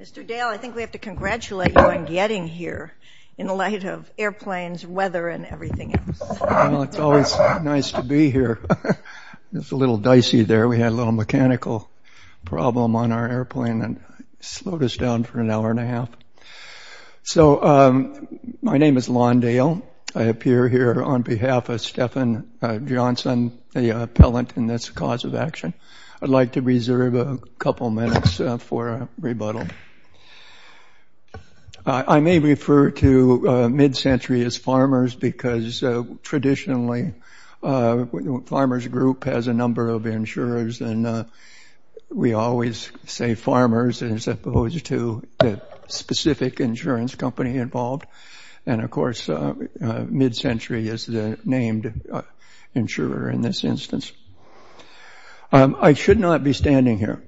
Mr. Dale, I think we have to congratulate you on getting here, in light of airplanes, weather, and everything else. It's always nice to be here. It's a little dicey there. We had a little mechanical problem on our airplane that slowed us down for an hour and a half. So my name is Lon Dale. I appear here on behalf of Stephan Johnson, the appellant in this cause of action. I'd like to reserve a couple minutes for a rebuttal. I may refer to Mid-Century as Farmers because traditionally the Farmers Group has a number of insurers, and we always say Farmers as opposed to the specific insurance company involved. And of course Mid-Century is the named insurer in this instance. I should not be standing here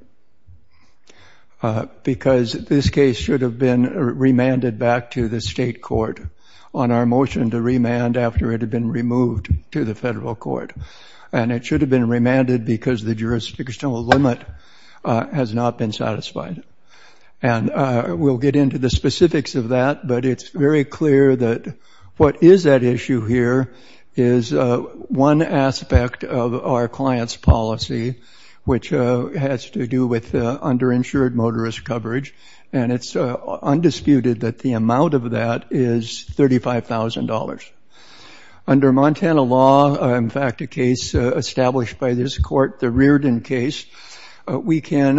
because this case should have been remanded back to the state court on our motion to remand after it had been removed to the federal court. And it should have been remanded because the jurisdictional limit has not been satisfied. And we'll get into the specifics of that, but it's very clear that what is at issue here is one aspect of our client's policy, which has to do with underinsured motorist coverage, and it's undisputed that the amount of that is $35,000. Under Montana law, in fact a case established by this court, the Reardon case, we can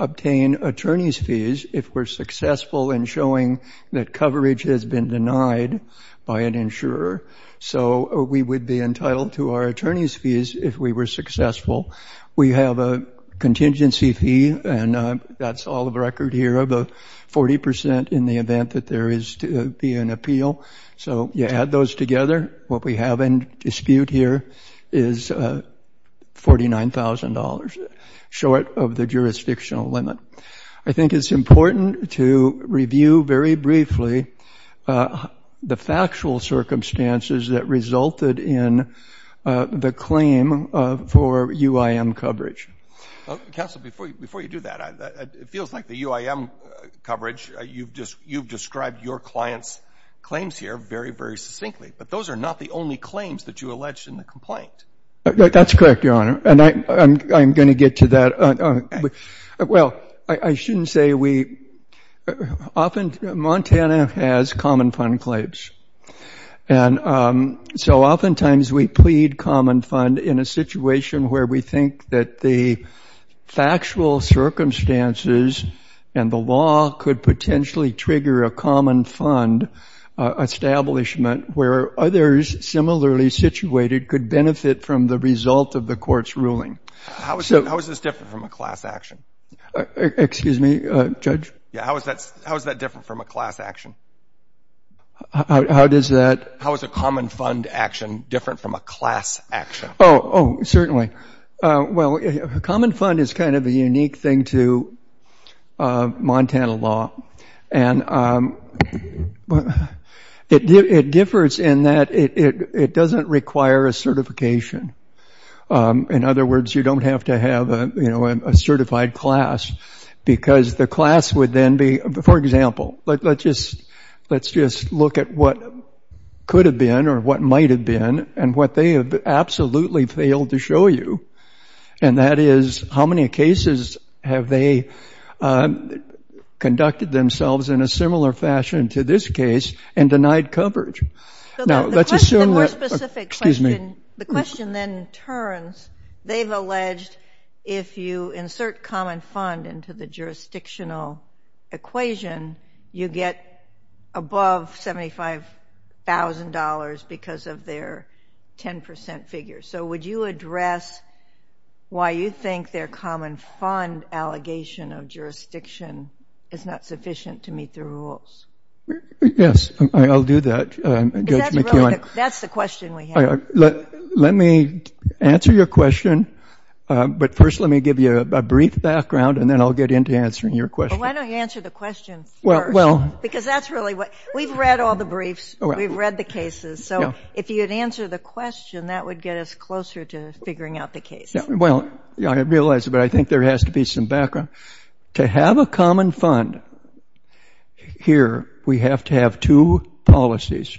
obtain attorney's fees if we're successful in showing that coverage has been denied by an insurer. So we would be entitled to our attorney's fees if we were successful. We have a contingency fee, and that's all of record here, of 40% in the event that there is to be an appeal. So you add those together, what we have in dispute here is $49,000, short of the jurisdictional limit. I think it's important to review very briefly the factual circumstances that resulted in the claim for UIM coverage. Counsel, before you do that, it feels like the UIM coverage, you've described your client's claims here very, very succinctly, but those are not the only claims that you alleged in the complaint. That's correct, Your Honor, and I'm going to get to that. Well, I shouldn't say we – often Montana has common fund claims, and so oftentimes we plead common fund in a situation where we think that the factual circumstances and the law could potentially trigger a common fund establishment where others similarly situated could benefit from the result of the court's ruling. How is this different from a class action? Excuse me, Judge? Yeah, how is that different from a class action? How does that – How is a common fund action different from a class action? Oh, certainly. Well, a common fund is kind of a unique thing to Montana law, and it differs in that it doesn't require a certification. In other words, you don't have to have a certified class because the class would then be – for example, let's just look at what could have been or what might have been and what they have absolutely failed to show you, and that is how many cases have they conducted themselves in a similar fashion to this case and denied coverage. Now, let's assume that – Excuse me. The question then turns. They've alleged if you insert common fund into the jurisdictional equation, you get above $75,000 because of their 10% figure. So would you address why you think their common fund allegation of jurisdiction is not sufficient to meet the rules? Yes, I'll do that. That's the question we have. Let me answer your question, but first let me give you a brief background and then I'll get into answering your question. Well, why don't you answer the question first? Because that's really what – we've read all the briefs. We've read the cases. So if you'd answer the question, that would get us closer to figuring out the case. Well, I realize, but I think there has to be some background. To have a common fund here, we have to have two policies,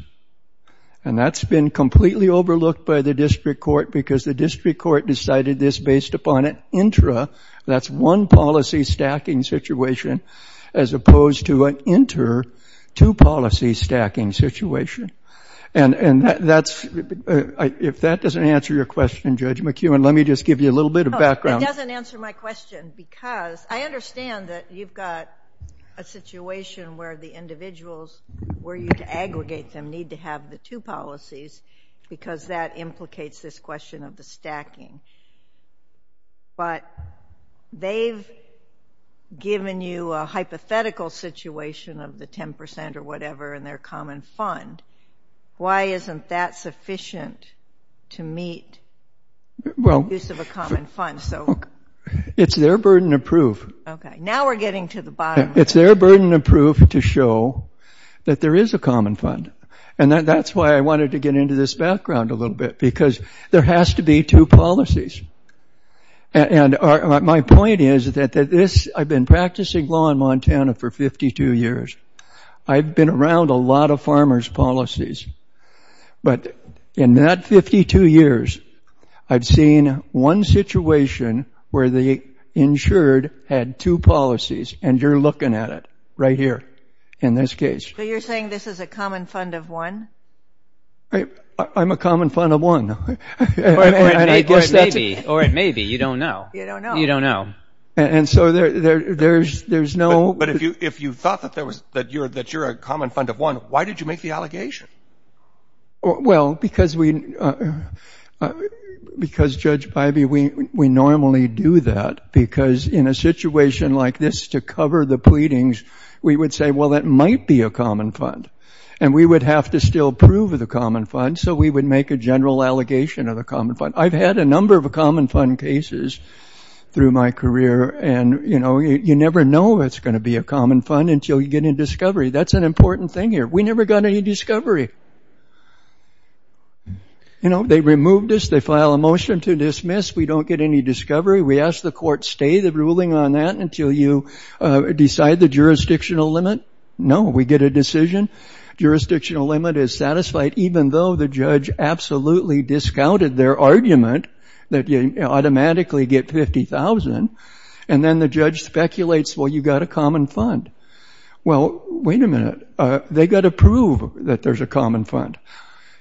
and that's been completely overlooked by the district court because the district court decided this based upon an intra, that's one policy stacking situation, as opposed to an inter, two policy stacking situation. And that's – if that doesn't answer your question, Judge McEwen, let me just give you a little bit of background. It doesn't answer my question because I understand that you've got a situation where the individuals, where you aggregate them, need to have the two policies because that implicates this question of the stacking. But they've given you a hypothetical situation of the 10% or whatever in their common fund. Why isn't that sufficient to meet the use of a common fund? It's their burden of proof. Okay. Now we're getting to the bottom. It's their burden of proof to show that there is a common fund. And that's why I wanted to get into this background a little bit because there has to be two policies. And my point is that this – I've been practicing law in Montana for 52 years. I've been around a lot of farmers' policies. But in that 52 years, I've seen one situation where the insured had two policies, and you're looking at it right here in this case. So you're saying this is a common fund of one? I'm a common fund of one. Or it may be. Or it may be. You don't know. You don't know. You don't know. And so there's no – But if you thought that you're a common fund of one, why did you make the allegation? Well, because we – because, Judge Bivey, we normally do that because in a situation like this, to cover the pleadings, we would say, well, that might be a common fund. And we would have to still prove the common fund, so we would make a general allegation of the common fund. I've had a number of common fund cases through my career, and, you know, you never know it's going to be a common fund until you get a discovery. That's an important thing here. We never got any discovery. You know, they removed us. They file a motion to dismiss. We don't get any discovery. We ask the court stay the ruling on that until you decide the jurisdictional limit. No, we get a decision. Jurisdictional limit is satisfied even though the judge absolutely discounted their argument that you automatically get $50,000, and then the judge speculates, well, you've got a common fund. Well, wait a minute. They've got to prove that there's a common fund.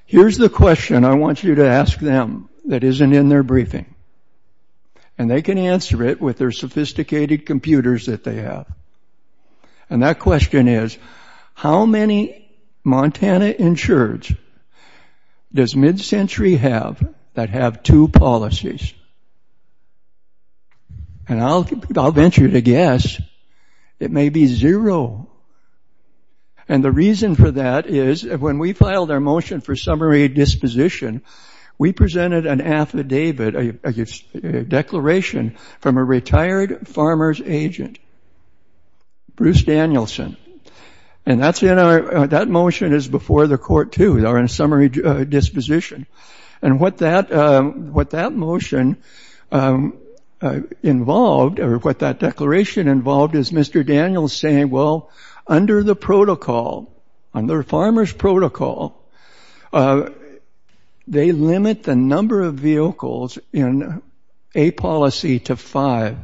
Here's the question I want you to ask them that isn't in their briefing, and they can answer it with their sophisticated computers that they have. And that question is, how many Montana insureds does mid-century have that have two policies? And I'll venture to guess it may be zero. And the reason for that is when we filed our motion for summary disposition, we presented an affidavit, a declaration, from a retired farmer's agent, Bruce Danielson. And that motion is before the court, too, in summary disposition. And what that motion involved, or what that declaration involved, is Mr. Daniels saying, well, under the protocol, under a farmer's protocol, they limit the number of vehicles in a policy to five.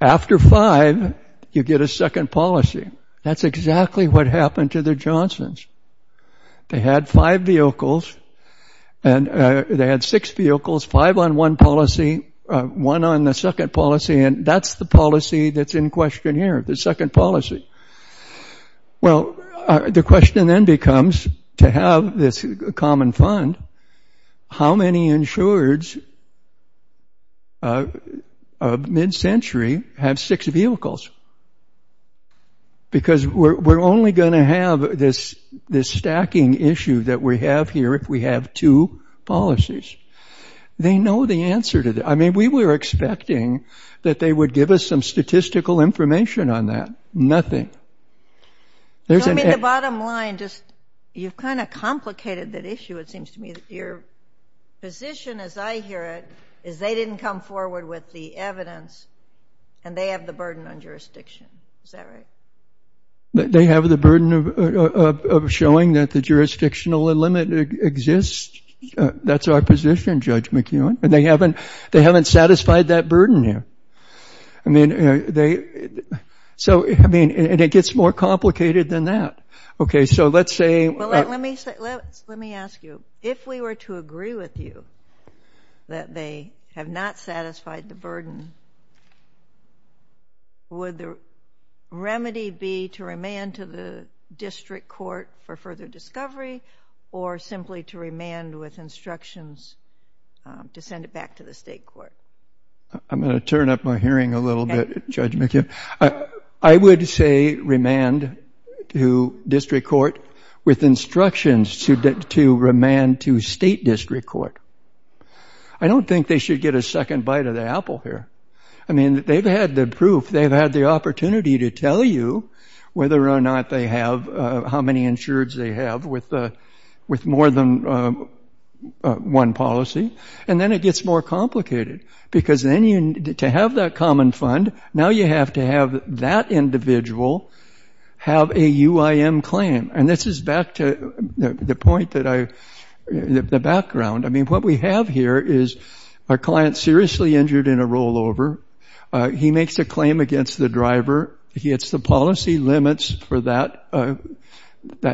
After five, you get a second policy. That's exactly what happened to the Johnsons. They had five vehicles, and they had six vehicles, five on one policy, one on the second policy, and that's the policy that's in question here, the second policy. Well, the question then becomes, to have this common fund, how many insureds of mid-century have six vehicles? Because we're only going to have this stacking issue that we have here if we have two policies. They know the answer to that. I mean, we were expecting that they would give us some statistical information on that. Nothing. I mean, the bottom line, you've kind of complicated that issue, it seems to me. Your position, as I hear it, is they didn't come forward with the evidence, and they have the burden on jurisdiction. Is that right? They have the burden of showing that the jurisdictional limit exists. That's our position, Judge McEwen. And they haven't satisfied that burden here. I mean, they... So, I mean, and it gets more complicated than that. Okay, so let's say... Well, let me ask you, if we were to agree with you that they have not satisfied the burden, would the remedy be to remand to the district court for further discovery or simply to remand with instructions to send it back to the state court? I'm going to turn up my hearing a little bit, Judge McEwen. I would say remand to district court with instructions to remand to state district court. I don't think they should get a second bite of the apple here. I mean, they've had the proof, they've had the opportunity to tell you whether or not they have... how many insureds they have with more than one policy. And then it gets more complicated because then to have that common fund, now you have to have that individual have a UIM claim. And this is back to the point that I... the background. I mean, what we have here is a client seriously injured in a rollover. He makes a claim against the driver. He hits the policy limits for that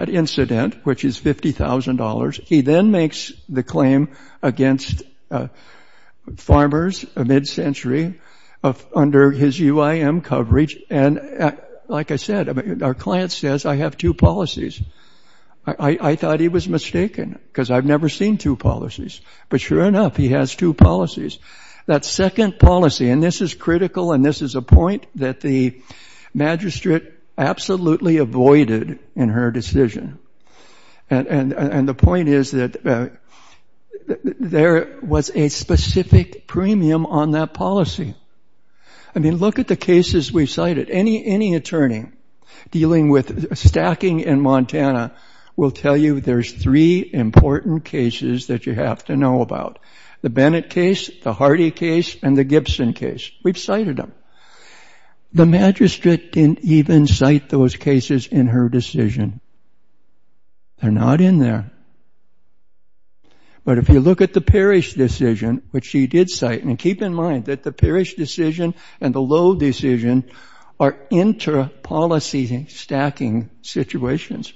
incident, which is $50,000. He then makes the claim against farmers, a mid-century, under his UIM coverage. And like I said, our client says, I have two policies. I thought he was mistaken because I've never seen two policies. But sure enough, he has two policies. That second policy, and this is critical, and this is a point that the magistrate absolutely avoided in her decision. And the point is that there was a specific premium on that policy. I mean, look at the cases we've cited. Any attorney dealing with stacking in Montana will tell you there's three important cases that you have to know about. The Bennett case, the Hardy case, and the Gibson case. We've cited them. The magistrate didn't even cite those cases in her decision. They're not in there. But if you look at the Parrish decision, which she did cite, and keep in mind that the Parrish decision and the Lowe decision are inter-policy stacking situations.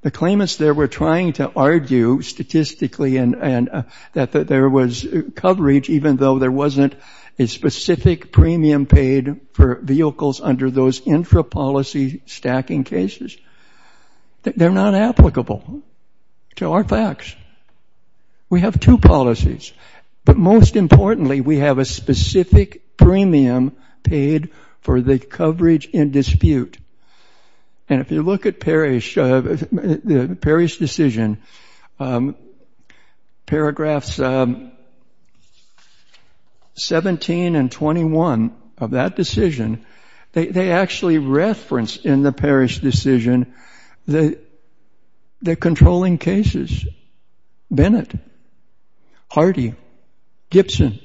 The claimants there were trying to argue statistically that there was coverage even though there wasn't a specific premium paid for vehicles under those intra-policy stacking cases. They're not applicable to our facts. We have two policies. But most importantly, we have a specific premium paid for the coverage in dispute. And if you look at the Parrish decision, paragraphs 17 and 21 of that decision, they actually reference in the Parrish decision the controlling cases. Bennett, Hardy, Gibson,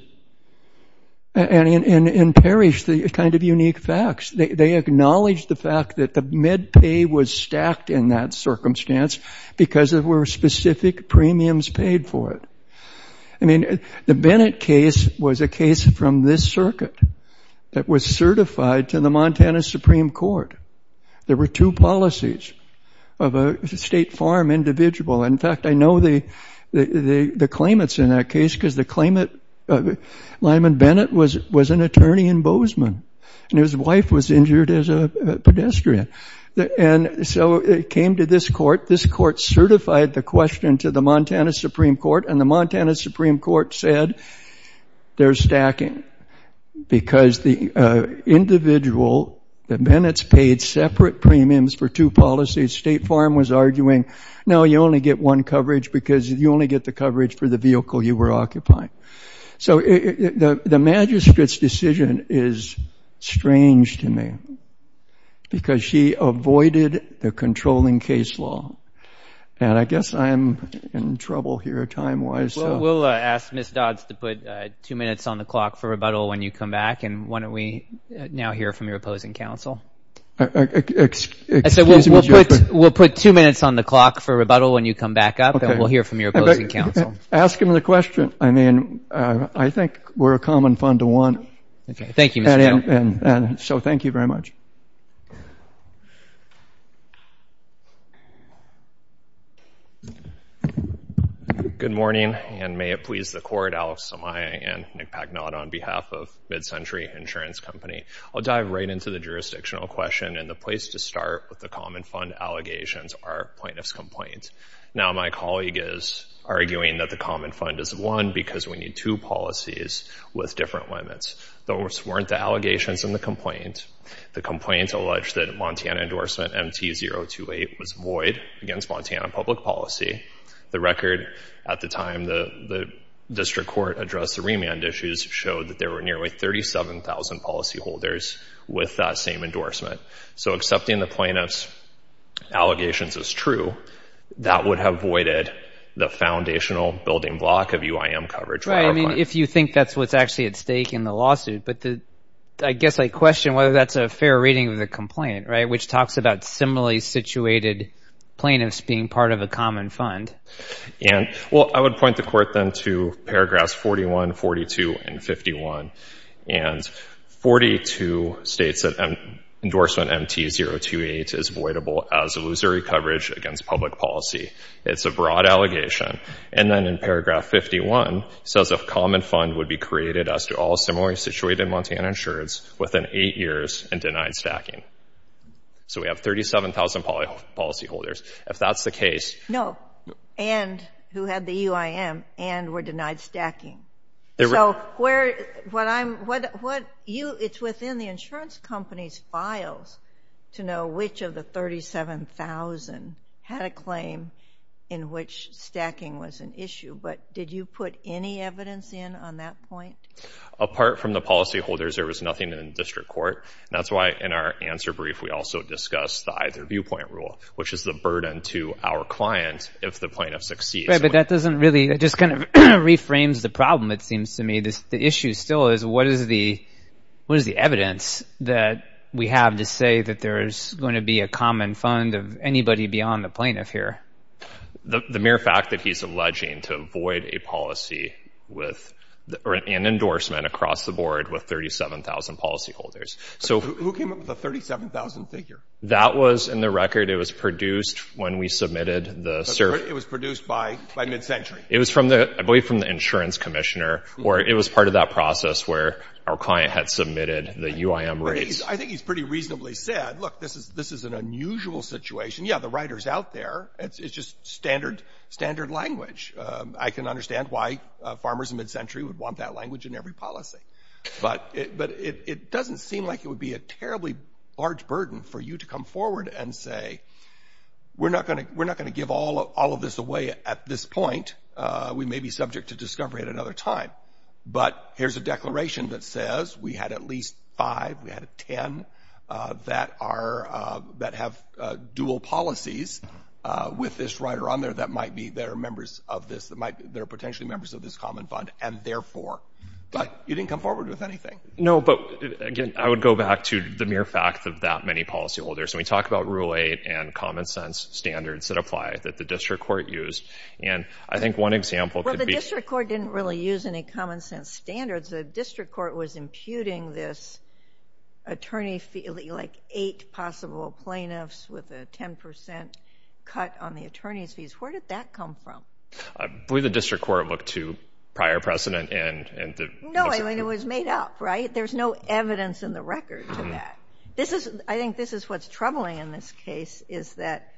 and Parrish, the kind of unique facts. They acknowledge the fact that the med pay was stacked in that circumstance because there were specific premiums paid for it. I mean, the Bennett case was a case from this circuit that was certified to the Montana Supreme Court. There were two policies of a state farm individual. In fact, I know the claimants in that case because the claimant, Lyman Bennett, was an attorney in Bozeman. And his wife was injured as a pedestrian. And so it came to this court. This court certified the question to the Montana Supreme Court. And the Montana Supreme Court said they're stacking because the individual, the Bennetts, paid separate premiums for two policies. State farm was arguing, no, you only get one coverage because you only get the coverage for the vehicle you were occupying. So the magistrate's decision is strange to me because she avoided the controlling case law. And I guess I'm in trouble here time-wise. Well, we'll ask Ms. Dodds to put two minutes on the clock for rebuttal when you come back. And why don't we now hear from your opposing counsel? Excuse me, Judge. We'll put two minutes on the clock for rebuttal when you come back up. And we'll hear from your opposing counsel. Ask him the question. I mean, I think we're a common fund to want. Thank you, Mr. Kittle. So thank you very much. Good morning, and may it please the Court, Alex Somaya and Nick Pagnot on behalf of MidCentury Insurance Company. I'll dive right into the jurisdictional question and the place to start with the common fund allegations, our plaintiff's complaint. Now, my colleague is arguing that the common fund is one because we need two policies with different limits. Those weren't the allegations in the complaint. The complaint alleged that a Montana endorsement, MT-028, was void against Montana public policy. The record at the time the district court addressed the remand issues showed that there were nearly 37,000 policyholders with that same endorsement. So accepting the plaintiff's allegations as true, that would have voided the foundational building block of UIM coverage. Right. I mean, if you think that's what's actually at stake in the lawsuit. But I guess I question whether that's a fair reading of the complaint, right, which talks about similarly situated plaintiffs being part of a common fund. And, well, I would point the Court then to paragraphs 41, 42, and 51. And 42 states that endorsement MT-028 is voidable as illusory coverage against public policy. It's a broad allegation. And then in paragraph 51, it says a common fund would be created as to all similarly situated Montana insurers within eight years and denied stacking. So we have 37,000 policyholders. If that's the case... No. And who had the UIM and were denied stacking. So it's within the insurance company's files to know which of the 37,000 had a claim in which stacking was an issue. But did you put any evidence in on that point? Apart from the policyholders, there was nothing in the district court. That's why in our answer brief, we also discussed the either viewpoint rule, which is the burden to our client if the plaintiff succeeds. Right, but that doesn't really... That becomes the problem, it seems to me. The issue still is what is the evidence that we have to say that there is going to be a common fund of anybody beyond the plaintiff here? The mere fact that he's alleging to void a policy with an endorsement across the board with 37,000 policyholders. Who came up with the 37,000 figure? That was in the record. It was produced when we submitted the... It was produced by MidCentury? It was, I believe, from the insurance commissioner, or it was part of that process where our client had submitted the UIM rates. I think he's pretty reasonably said, look, this is an unusual situation. Yeah, the writer's out there. It's just standard language. I can understand why farmers in MidCentury would want that language in every policy. But it doesn't seem like it would be a terribly large burden for you to come forward and say, we're not going to give all of this away at this point. We may be subject to discovery at another time. But here's a declaration that says we had at least five, we had 10, that have dual policies with this writer on there that are potentially members of this common fund, and therefore... But you didn't come forward with anything. No, but again, I would go back to the mere fact of that many policyholders. And we talk about Rule 8 and common sense standards that apply that the district court used. And I think one example could be... Well, the district court didn't really use any common sense standards. The district court was imputing this attorney fee, like eight possible plaintiffs with a 10% cut on the attorney's fees. Where did that come from? I believe the district court looked to prior precedent and... No, I mean, it was made up, right? There's no evidence in the record to that. I think this is what's troubling in this case, is that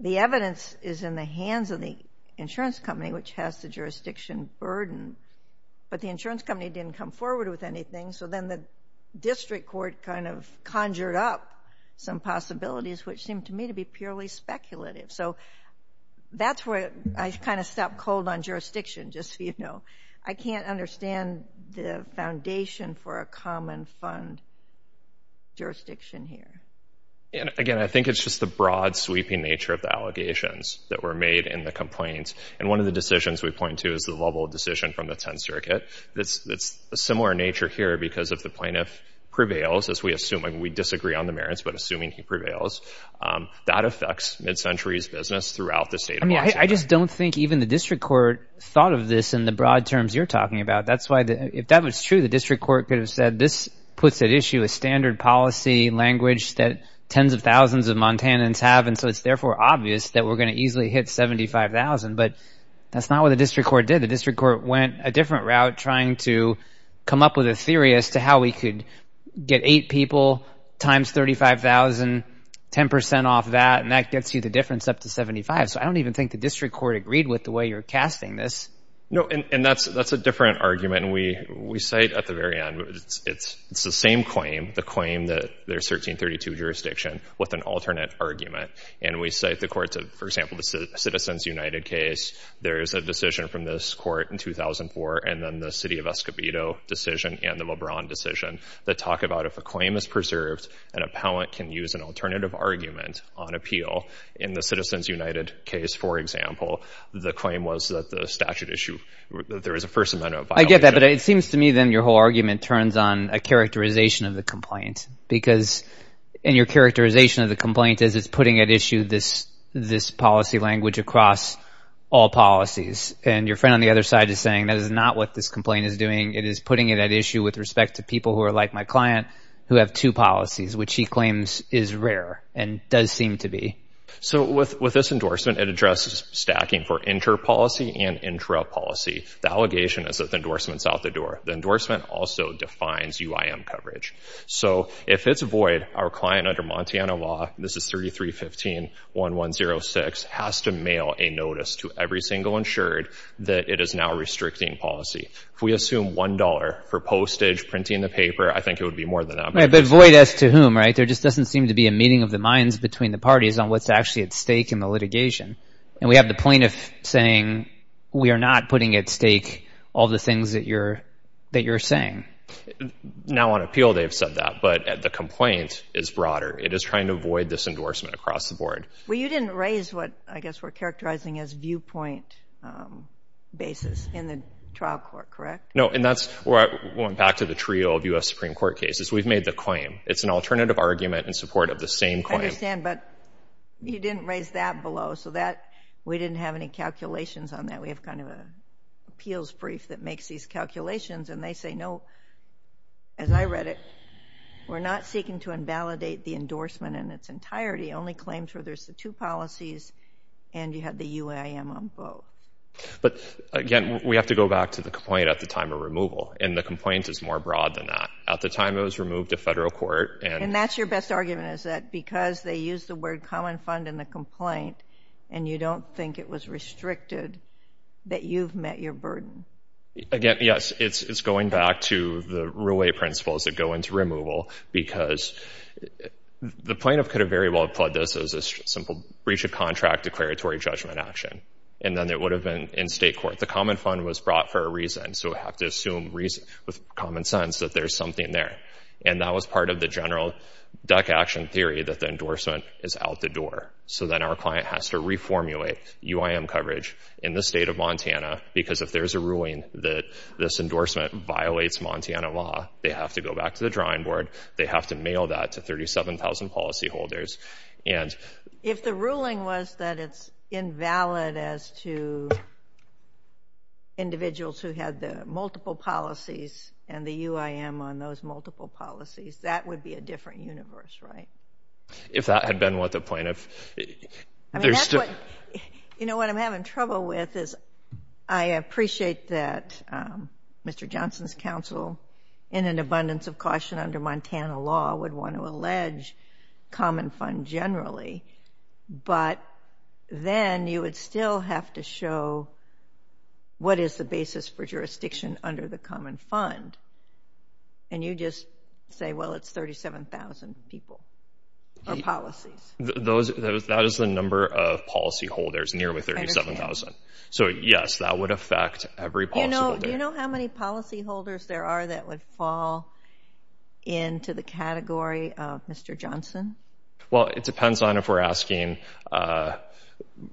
the evidence is in the hands of the insurance company, which has the jurisdiction burden. But the insurance company didn't come forward with anything, so then the district court kind of conjured up some possibilities, which seemed to me to be purely speculative. So that's where I kind of stopped cold on jurisdiction, just so you know. I can't understand the foundation for a common fund jurisdiction here. Again, I think it's just the broad, sweeping nature of the allegations that were made in the complaint. And one of the decisions we point to is the level of decision from the Tenth Circuit. It's a similar nature here because if the plaintiff prevails, as we assume, and we disagree on the merits, but assuming he prevails, that affects mid-century's business throughout the state of Washington. I just don't think even the district court thought of this in the broad terms you're talking about. If that was true, the district court could have said, this puts at issue a standard policy language that tens of thousands of Montanans have, and so it's therefore obvious that we're going to easily hit 75,000. But that's not what the district court did. The district court went a different route trying to come up with a theory as to how we could get eight people times 35,000, 10% off that, and that gets you the difference up to 75. So I don't even think the district court agreed with the way you're casting this. No, and that's a different argument, and we cite at the very end. It's the same claim, the claim that there's 1332 jurisdiction with an alternate argument, and we cite the courts of, for example, the Citizens United case. There is a decision from this court in 2004 and then the city of Escobedo decision and the LeBron decision that talk about if a claim is preserved, an appellant can use an alternative argument on appeal. In the Citizens United case, for example, the claim was that the statute issued that there is a first amendment violation. I get that, but it seems to me then your whole argument turns on a characterization of the complaint because in your characterization of the complaint is it's putting at issue this policy language across all policies, and your friend on the other side is saying that is not what this complaint is doing. It is putting it at issue with respect to people who are like my client who have two policies, which he claims is rare and does seem to be. So with this endorsement, it addresses stacking for inter-policy and intra-policy. The allegation is that the endorsement is out the door. The endorsement also defines UIM coverage. So if it's void, our client under Montana law, this is 3315.1106, has to mail a notice to every single insured that it is now restricting policy. If we assume $1 for postage, printing the paper, I think it would be more than that. But void as to whom, right? There just doesn't seem to be a meeting of the minds between the parties on what's actually at stake in the litigation. And we have the plaintiff saying we are not putting at stake all the things that you're saying. Now on appeal they've said that, but the complaint is broader. It is trying to avoid this endorsement across the board. Well, you didn't raise what I guess we're characterizing as viewpoint basis in the trial court, correct? No, and that's where I went back to the trio of U.S. Supreme Court cases. We've made the claim. It's an alternative argument in support of the same claim. I understand, but you didn't raise that below, so we didn't have any calculations on that. We have kind of an appeals brief that makes these calculations, and they say no, as I read it, we're not seeking to invalidate the endorsement in its entirety, only claims where there's the two policies and you have the UAM on both. But again, we have to go back to the complaint at the time of removal, and the complaint is more broad than that. At the time it was removed to federal court. And that's your best argument, is that because they used the word common fund in the complaint and you don't think it was restricted, that you've met your burden. Again, yes, it's going back to the real-life principles that go into removal, because the plaintiff could have very well applied this as a simple breach of contract declaratory judgment action, and then it would have been in state court. The common fund was brought for a reason, so we have to assume with common sense that there's something there. And that was part of the general duck action theory, that the endorsement is out the door. So then our client has to reformulate UIM coverage in the state of Montana, because if there's a ruling that this endorsement violates Montana law, they have to go back to the drawing board, they have to mail that to 37,000 policyholders. And if the ruling was that it's invalid as to individuals who had the multiple policies and the UIM on those multiple policies, that would be a different universe, right? If that had been what the plaintiff... I mean, that's what... You know, what I'm having trouble with is I appreciate that Mr. Johnson's counsel, in an abundance of caution under Montana law, would want to allege common fund generally, but then you would still have to show what is the basis for jurisdiction under the common fund? And you just say, well, it's 37,000 people or policies. That is the number of policyholders, nearly 37,000. So yes, that would affect every policyholder. Do you know how many policyholders there are that would fall into the category of Mr. Johnson? Well, it depends on if we're asking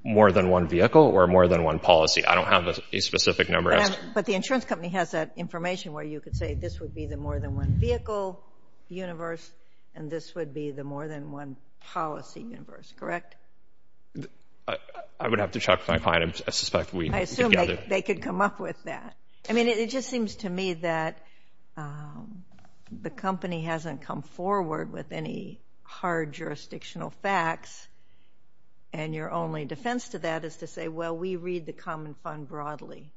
more than one vehicle or more than one policy. I don't have a specific number. But the insurance company has that information where you could say this would be the more than one vehicle universe and this would be the more than one policy universe, correct? I would have to check with my client. I suspect we could gather... I assume they could come up with that. I mean, it just seems to me that the company hasn't come forward with any hard jurisdictional facts. And your only defense to that is to say, well, we read the common fund broadly.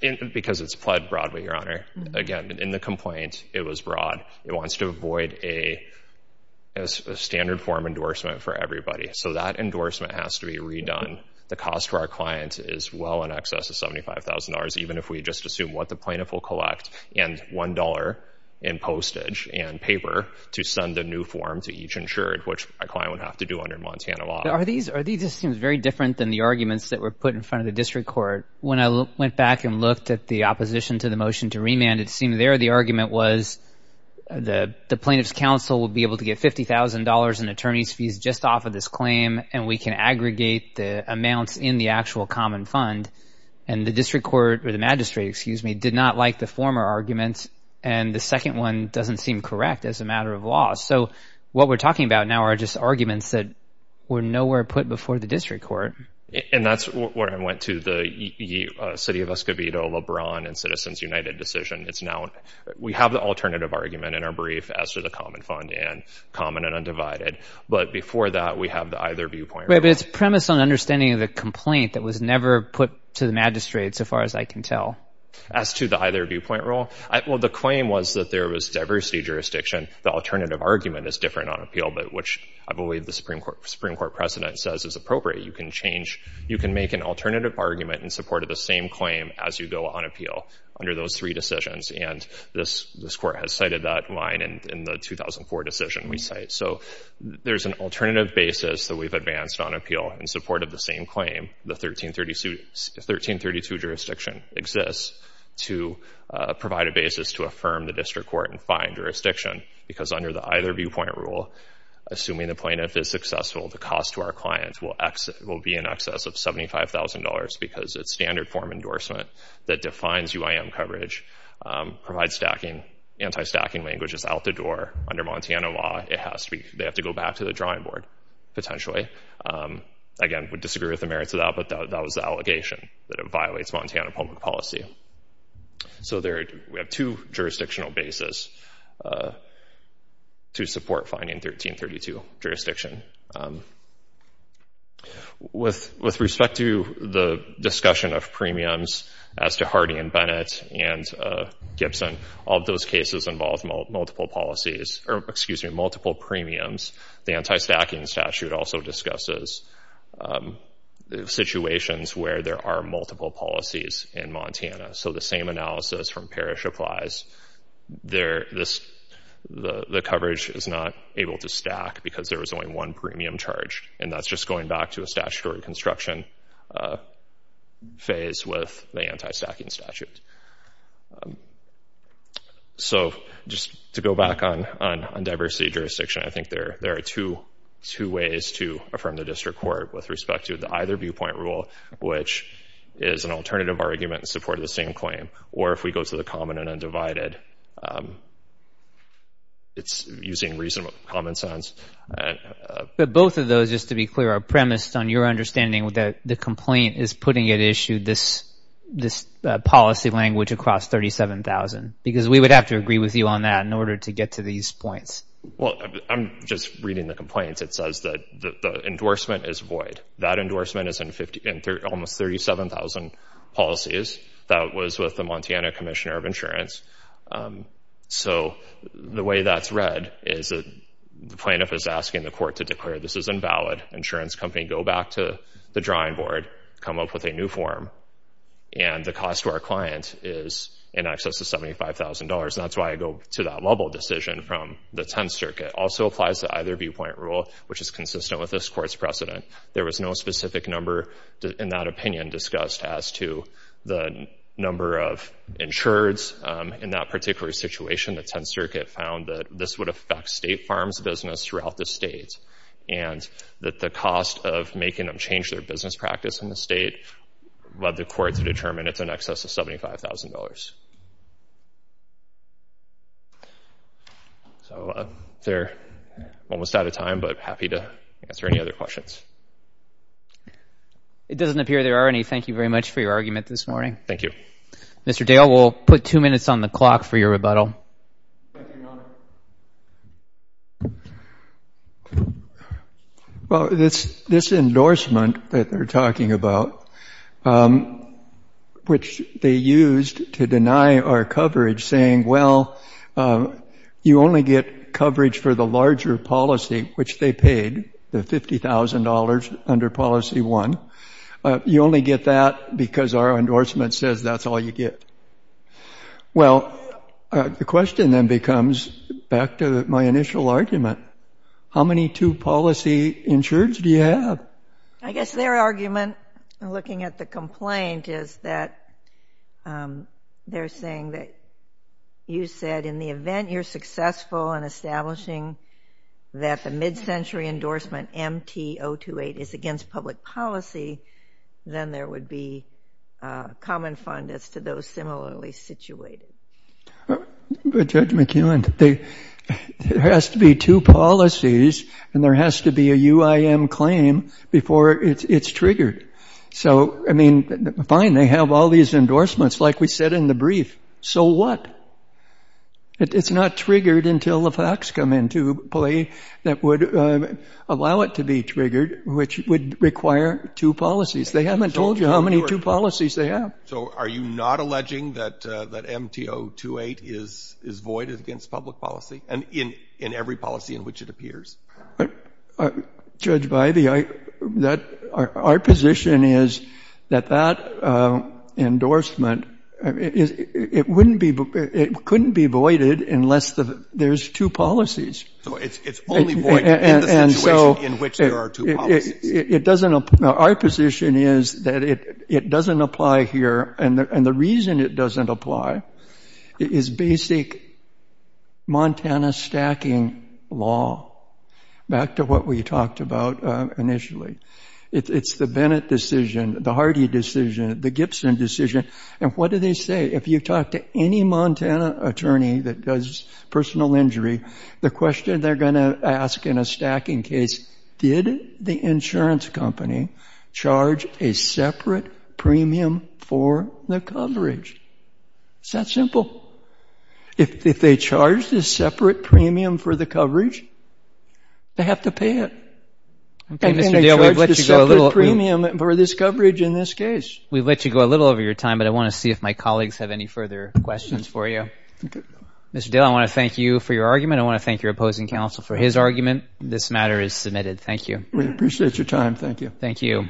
Because it's pled broadly, Your Honor. Again, in the complaint, it was broad. It wants to avoid a standard form endorsement for everybody. So that endorsement has to be redone. The cost to our client is well in excess of $75,000, even if we just assume what the plaintiff will collect and $1 in postage and paper to send a new form to each insured, which my client would have to do under Montana law. Are these... this seems very different than the arguments that were put in front of the district court. When I went back and looked at the opposition to the motion to remand, it seemed there the argument was the plaintiff's counsel would be able to get $50,000 in attorney's fees just off of this claim and we can aggregate the amounts in the actual common fund. And the district court, or the magistrate, excuse me, did not like the former arguments, and the second one doesn't seem correct as a matter of law. So what we're talking about now are just arguments that were nowhere put before the district court. And that's where I went to the City of Escobedo, LeBron, and Citizens United decision. It's now... we have the alternative argument in our brief as to the common fund and common and undivided. But before that, we have the either viewpoint. Right, but it's premise on understanding the complaint that was never put to the magistrate, so far as I can tell. As to the either viewpoint rule, well, the claim was that there was diversity jurisdiction. The alternative argument is different on appeal, but which I believe the Supreme Court precedent says is appropriate. You can change... you can make an alternative argument in support of the same claim as you go on appeal under those three decisions. And this court has cited that line in the 2004 decision we cite. So there's an alternative basis that we've advanced on appeal in support of the same claim, the 1332 jurisdiction exists, to provide a basis to affirm the district court and fine jurisdiction. Because under the either viewpoint rule, assuming the plaintiff is successful, the cost to our client will be in excess of $75,000 because it's standard form endorsement that defines UIM coverage, provides anti-stacking languages out the door. Under Montana law, it has to be... potentially. Again, would disagree with the merits of that, but that was the allegation, that it violates Montana public policy. So we have two jurisdictional bases to support fining 1332 jurisdiction. With respect to the discussion of premiums as to Hardy and Bennett and Gibson, all those cases involved multiple policies... or, excuse me, multiple premiums. The anti-stacking statute also discusses situations where there are multiple policies in Montana. So the same analysis from Parrish applies. The coverage is not able to stack because there was only one premium charged, and that's just going back to a statutory construction phase with the anti-stacking statute. So just to go back on diversity jurisdiction, I think there are two ways to affirm the district court with respect to the either viewpoint rule, which is an alternative argument in support of the same claim, or if we go to the common and undivided, it's using reasonable common sense. But both of those, just to be clear, are premised on your understanding that the complaint is putting at issue this policy language across 37,000 because we would have to agree with you on that in order to get to these points. Well, I'm just reading the complaint. It says that the endorsement is void. That endorsement is in almost 37,000 policies. That was with the Montana Commissioner of Insurance. So the way that's read is the plaintiff is asking the court to declare this is invalid. Insurance company go back to the drawing board, come up with a new form, and the cost to our client is in excess of $75,000. And that's why I go to that level decision from the Tenth Circuit. Also applies to either viewpoint rule, which is consistent with this court's precedent. There was no specific number in that opinion discussed as to the number of insureds. In that particular situation, the Tenth Circuit found that this would affect state farms business throughout the state, and that the cost of making them change their business practice in the state led the court to determine it's in excess of $75,000. So they're almost out of time, but happy to answer any other questions. It doesn't appear there are any. Thank you very much for your argument this morning. Thank you. Mr. Dale, we'll put two minutes on the clock for your rebuttal. Thank you, Your Honor. Well, this endorsement that they're talking about, which they used to deny our coverage, saying, well, you only get coverage for the larger policy, which they paid, the $50,000 under Policy 1. You only get that because our endorsement says that's all you get. Well, the question then becomes, back to my initial argument, how many two-policy insureds do you have? I guess their argument, looking at the complaint, is that they're saying that you said in the event you're successful in establishing that the mid-century endorsement, MTO28, is against public policy, then there would be a common fund as to those similarly situated. But, Judge McEwen, there has to be two policies, and there has to be a UIM claim before it's triggered. So, I mean, fine, they have all these endorsements, like we said in the brief. So what? It's not triggered until the facts come into play that would allow it to be triggered, which would require two policies. They haven't told you how many two policies they have. So are you not alleging that MTO28 is void against public policy, and in every policy in which it appears? Judge Bidey, our position is that that endorsement, it couldn't be voided unless there's two policies. So it's only void in the situation in which there are two policies. Our position is that it doesn't apply here, and the reason it doesn't apply is basic Montana stacking law, back to what we talked about initially. It's the Bennett decision, the Hardy decision, the Gibson decision, and what do they say? If you talk to any Montana attorney that does personal injury, the question they're going to ask in a stacking case, did the insurance company charge a separate premium for the coverage? It's that simple. If they charge this separate premium for the coverage, they have to pay it. I think they charge this separate premium for this coverage in this case. We've let you go a little over your time, but I want to see if my colleagues have any further questions for you. Mr. Dale, I want to thank you for your argument. I want to thank your opposing counsel for his argument. This matter is submitted. Thank you. We appreciate your time. Thank you. Thank you.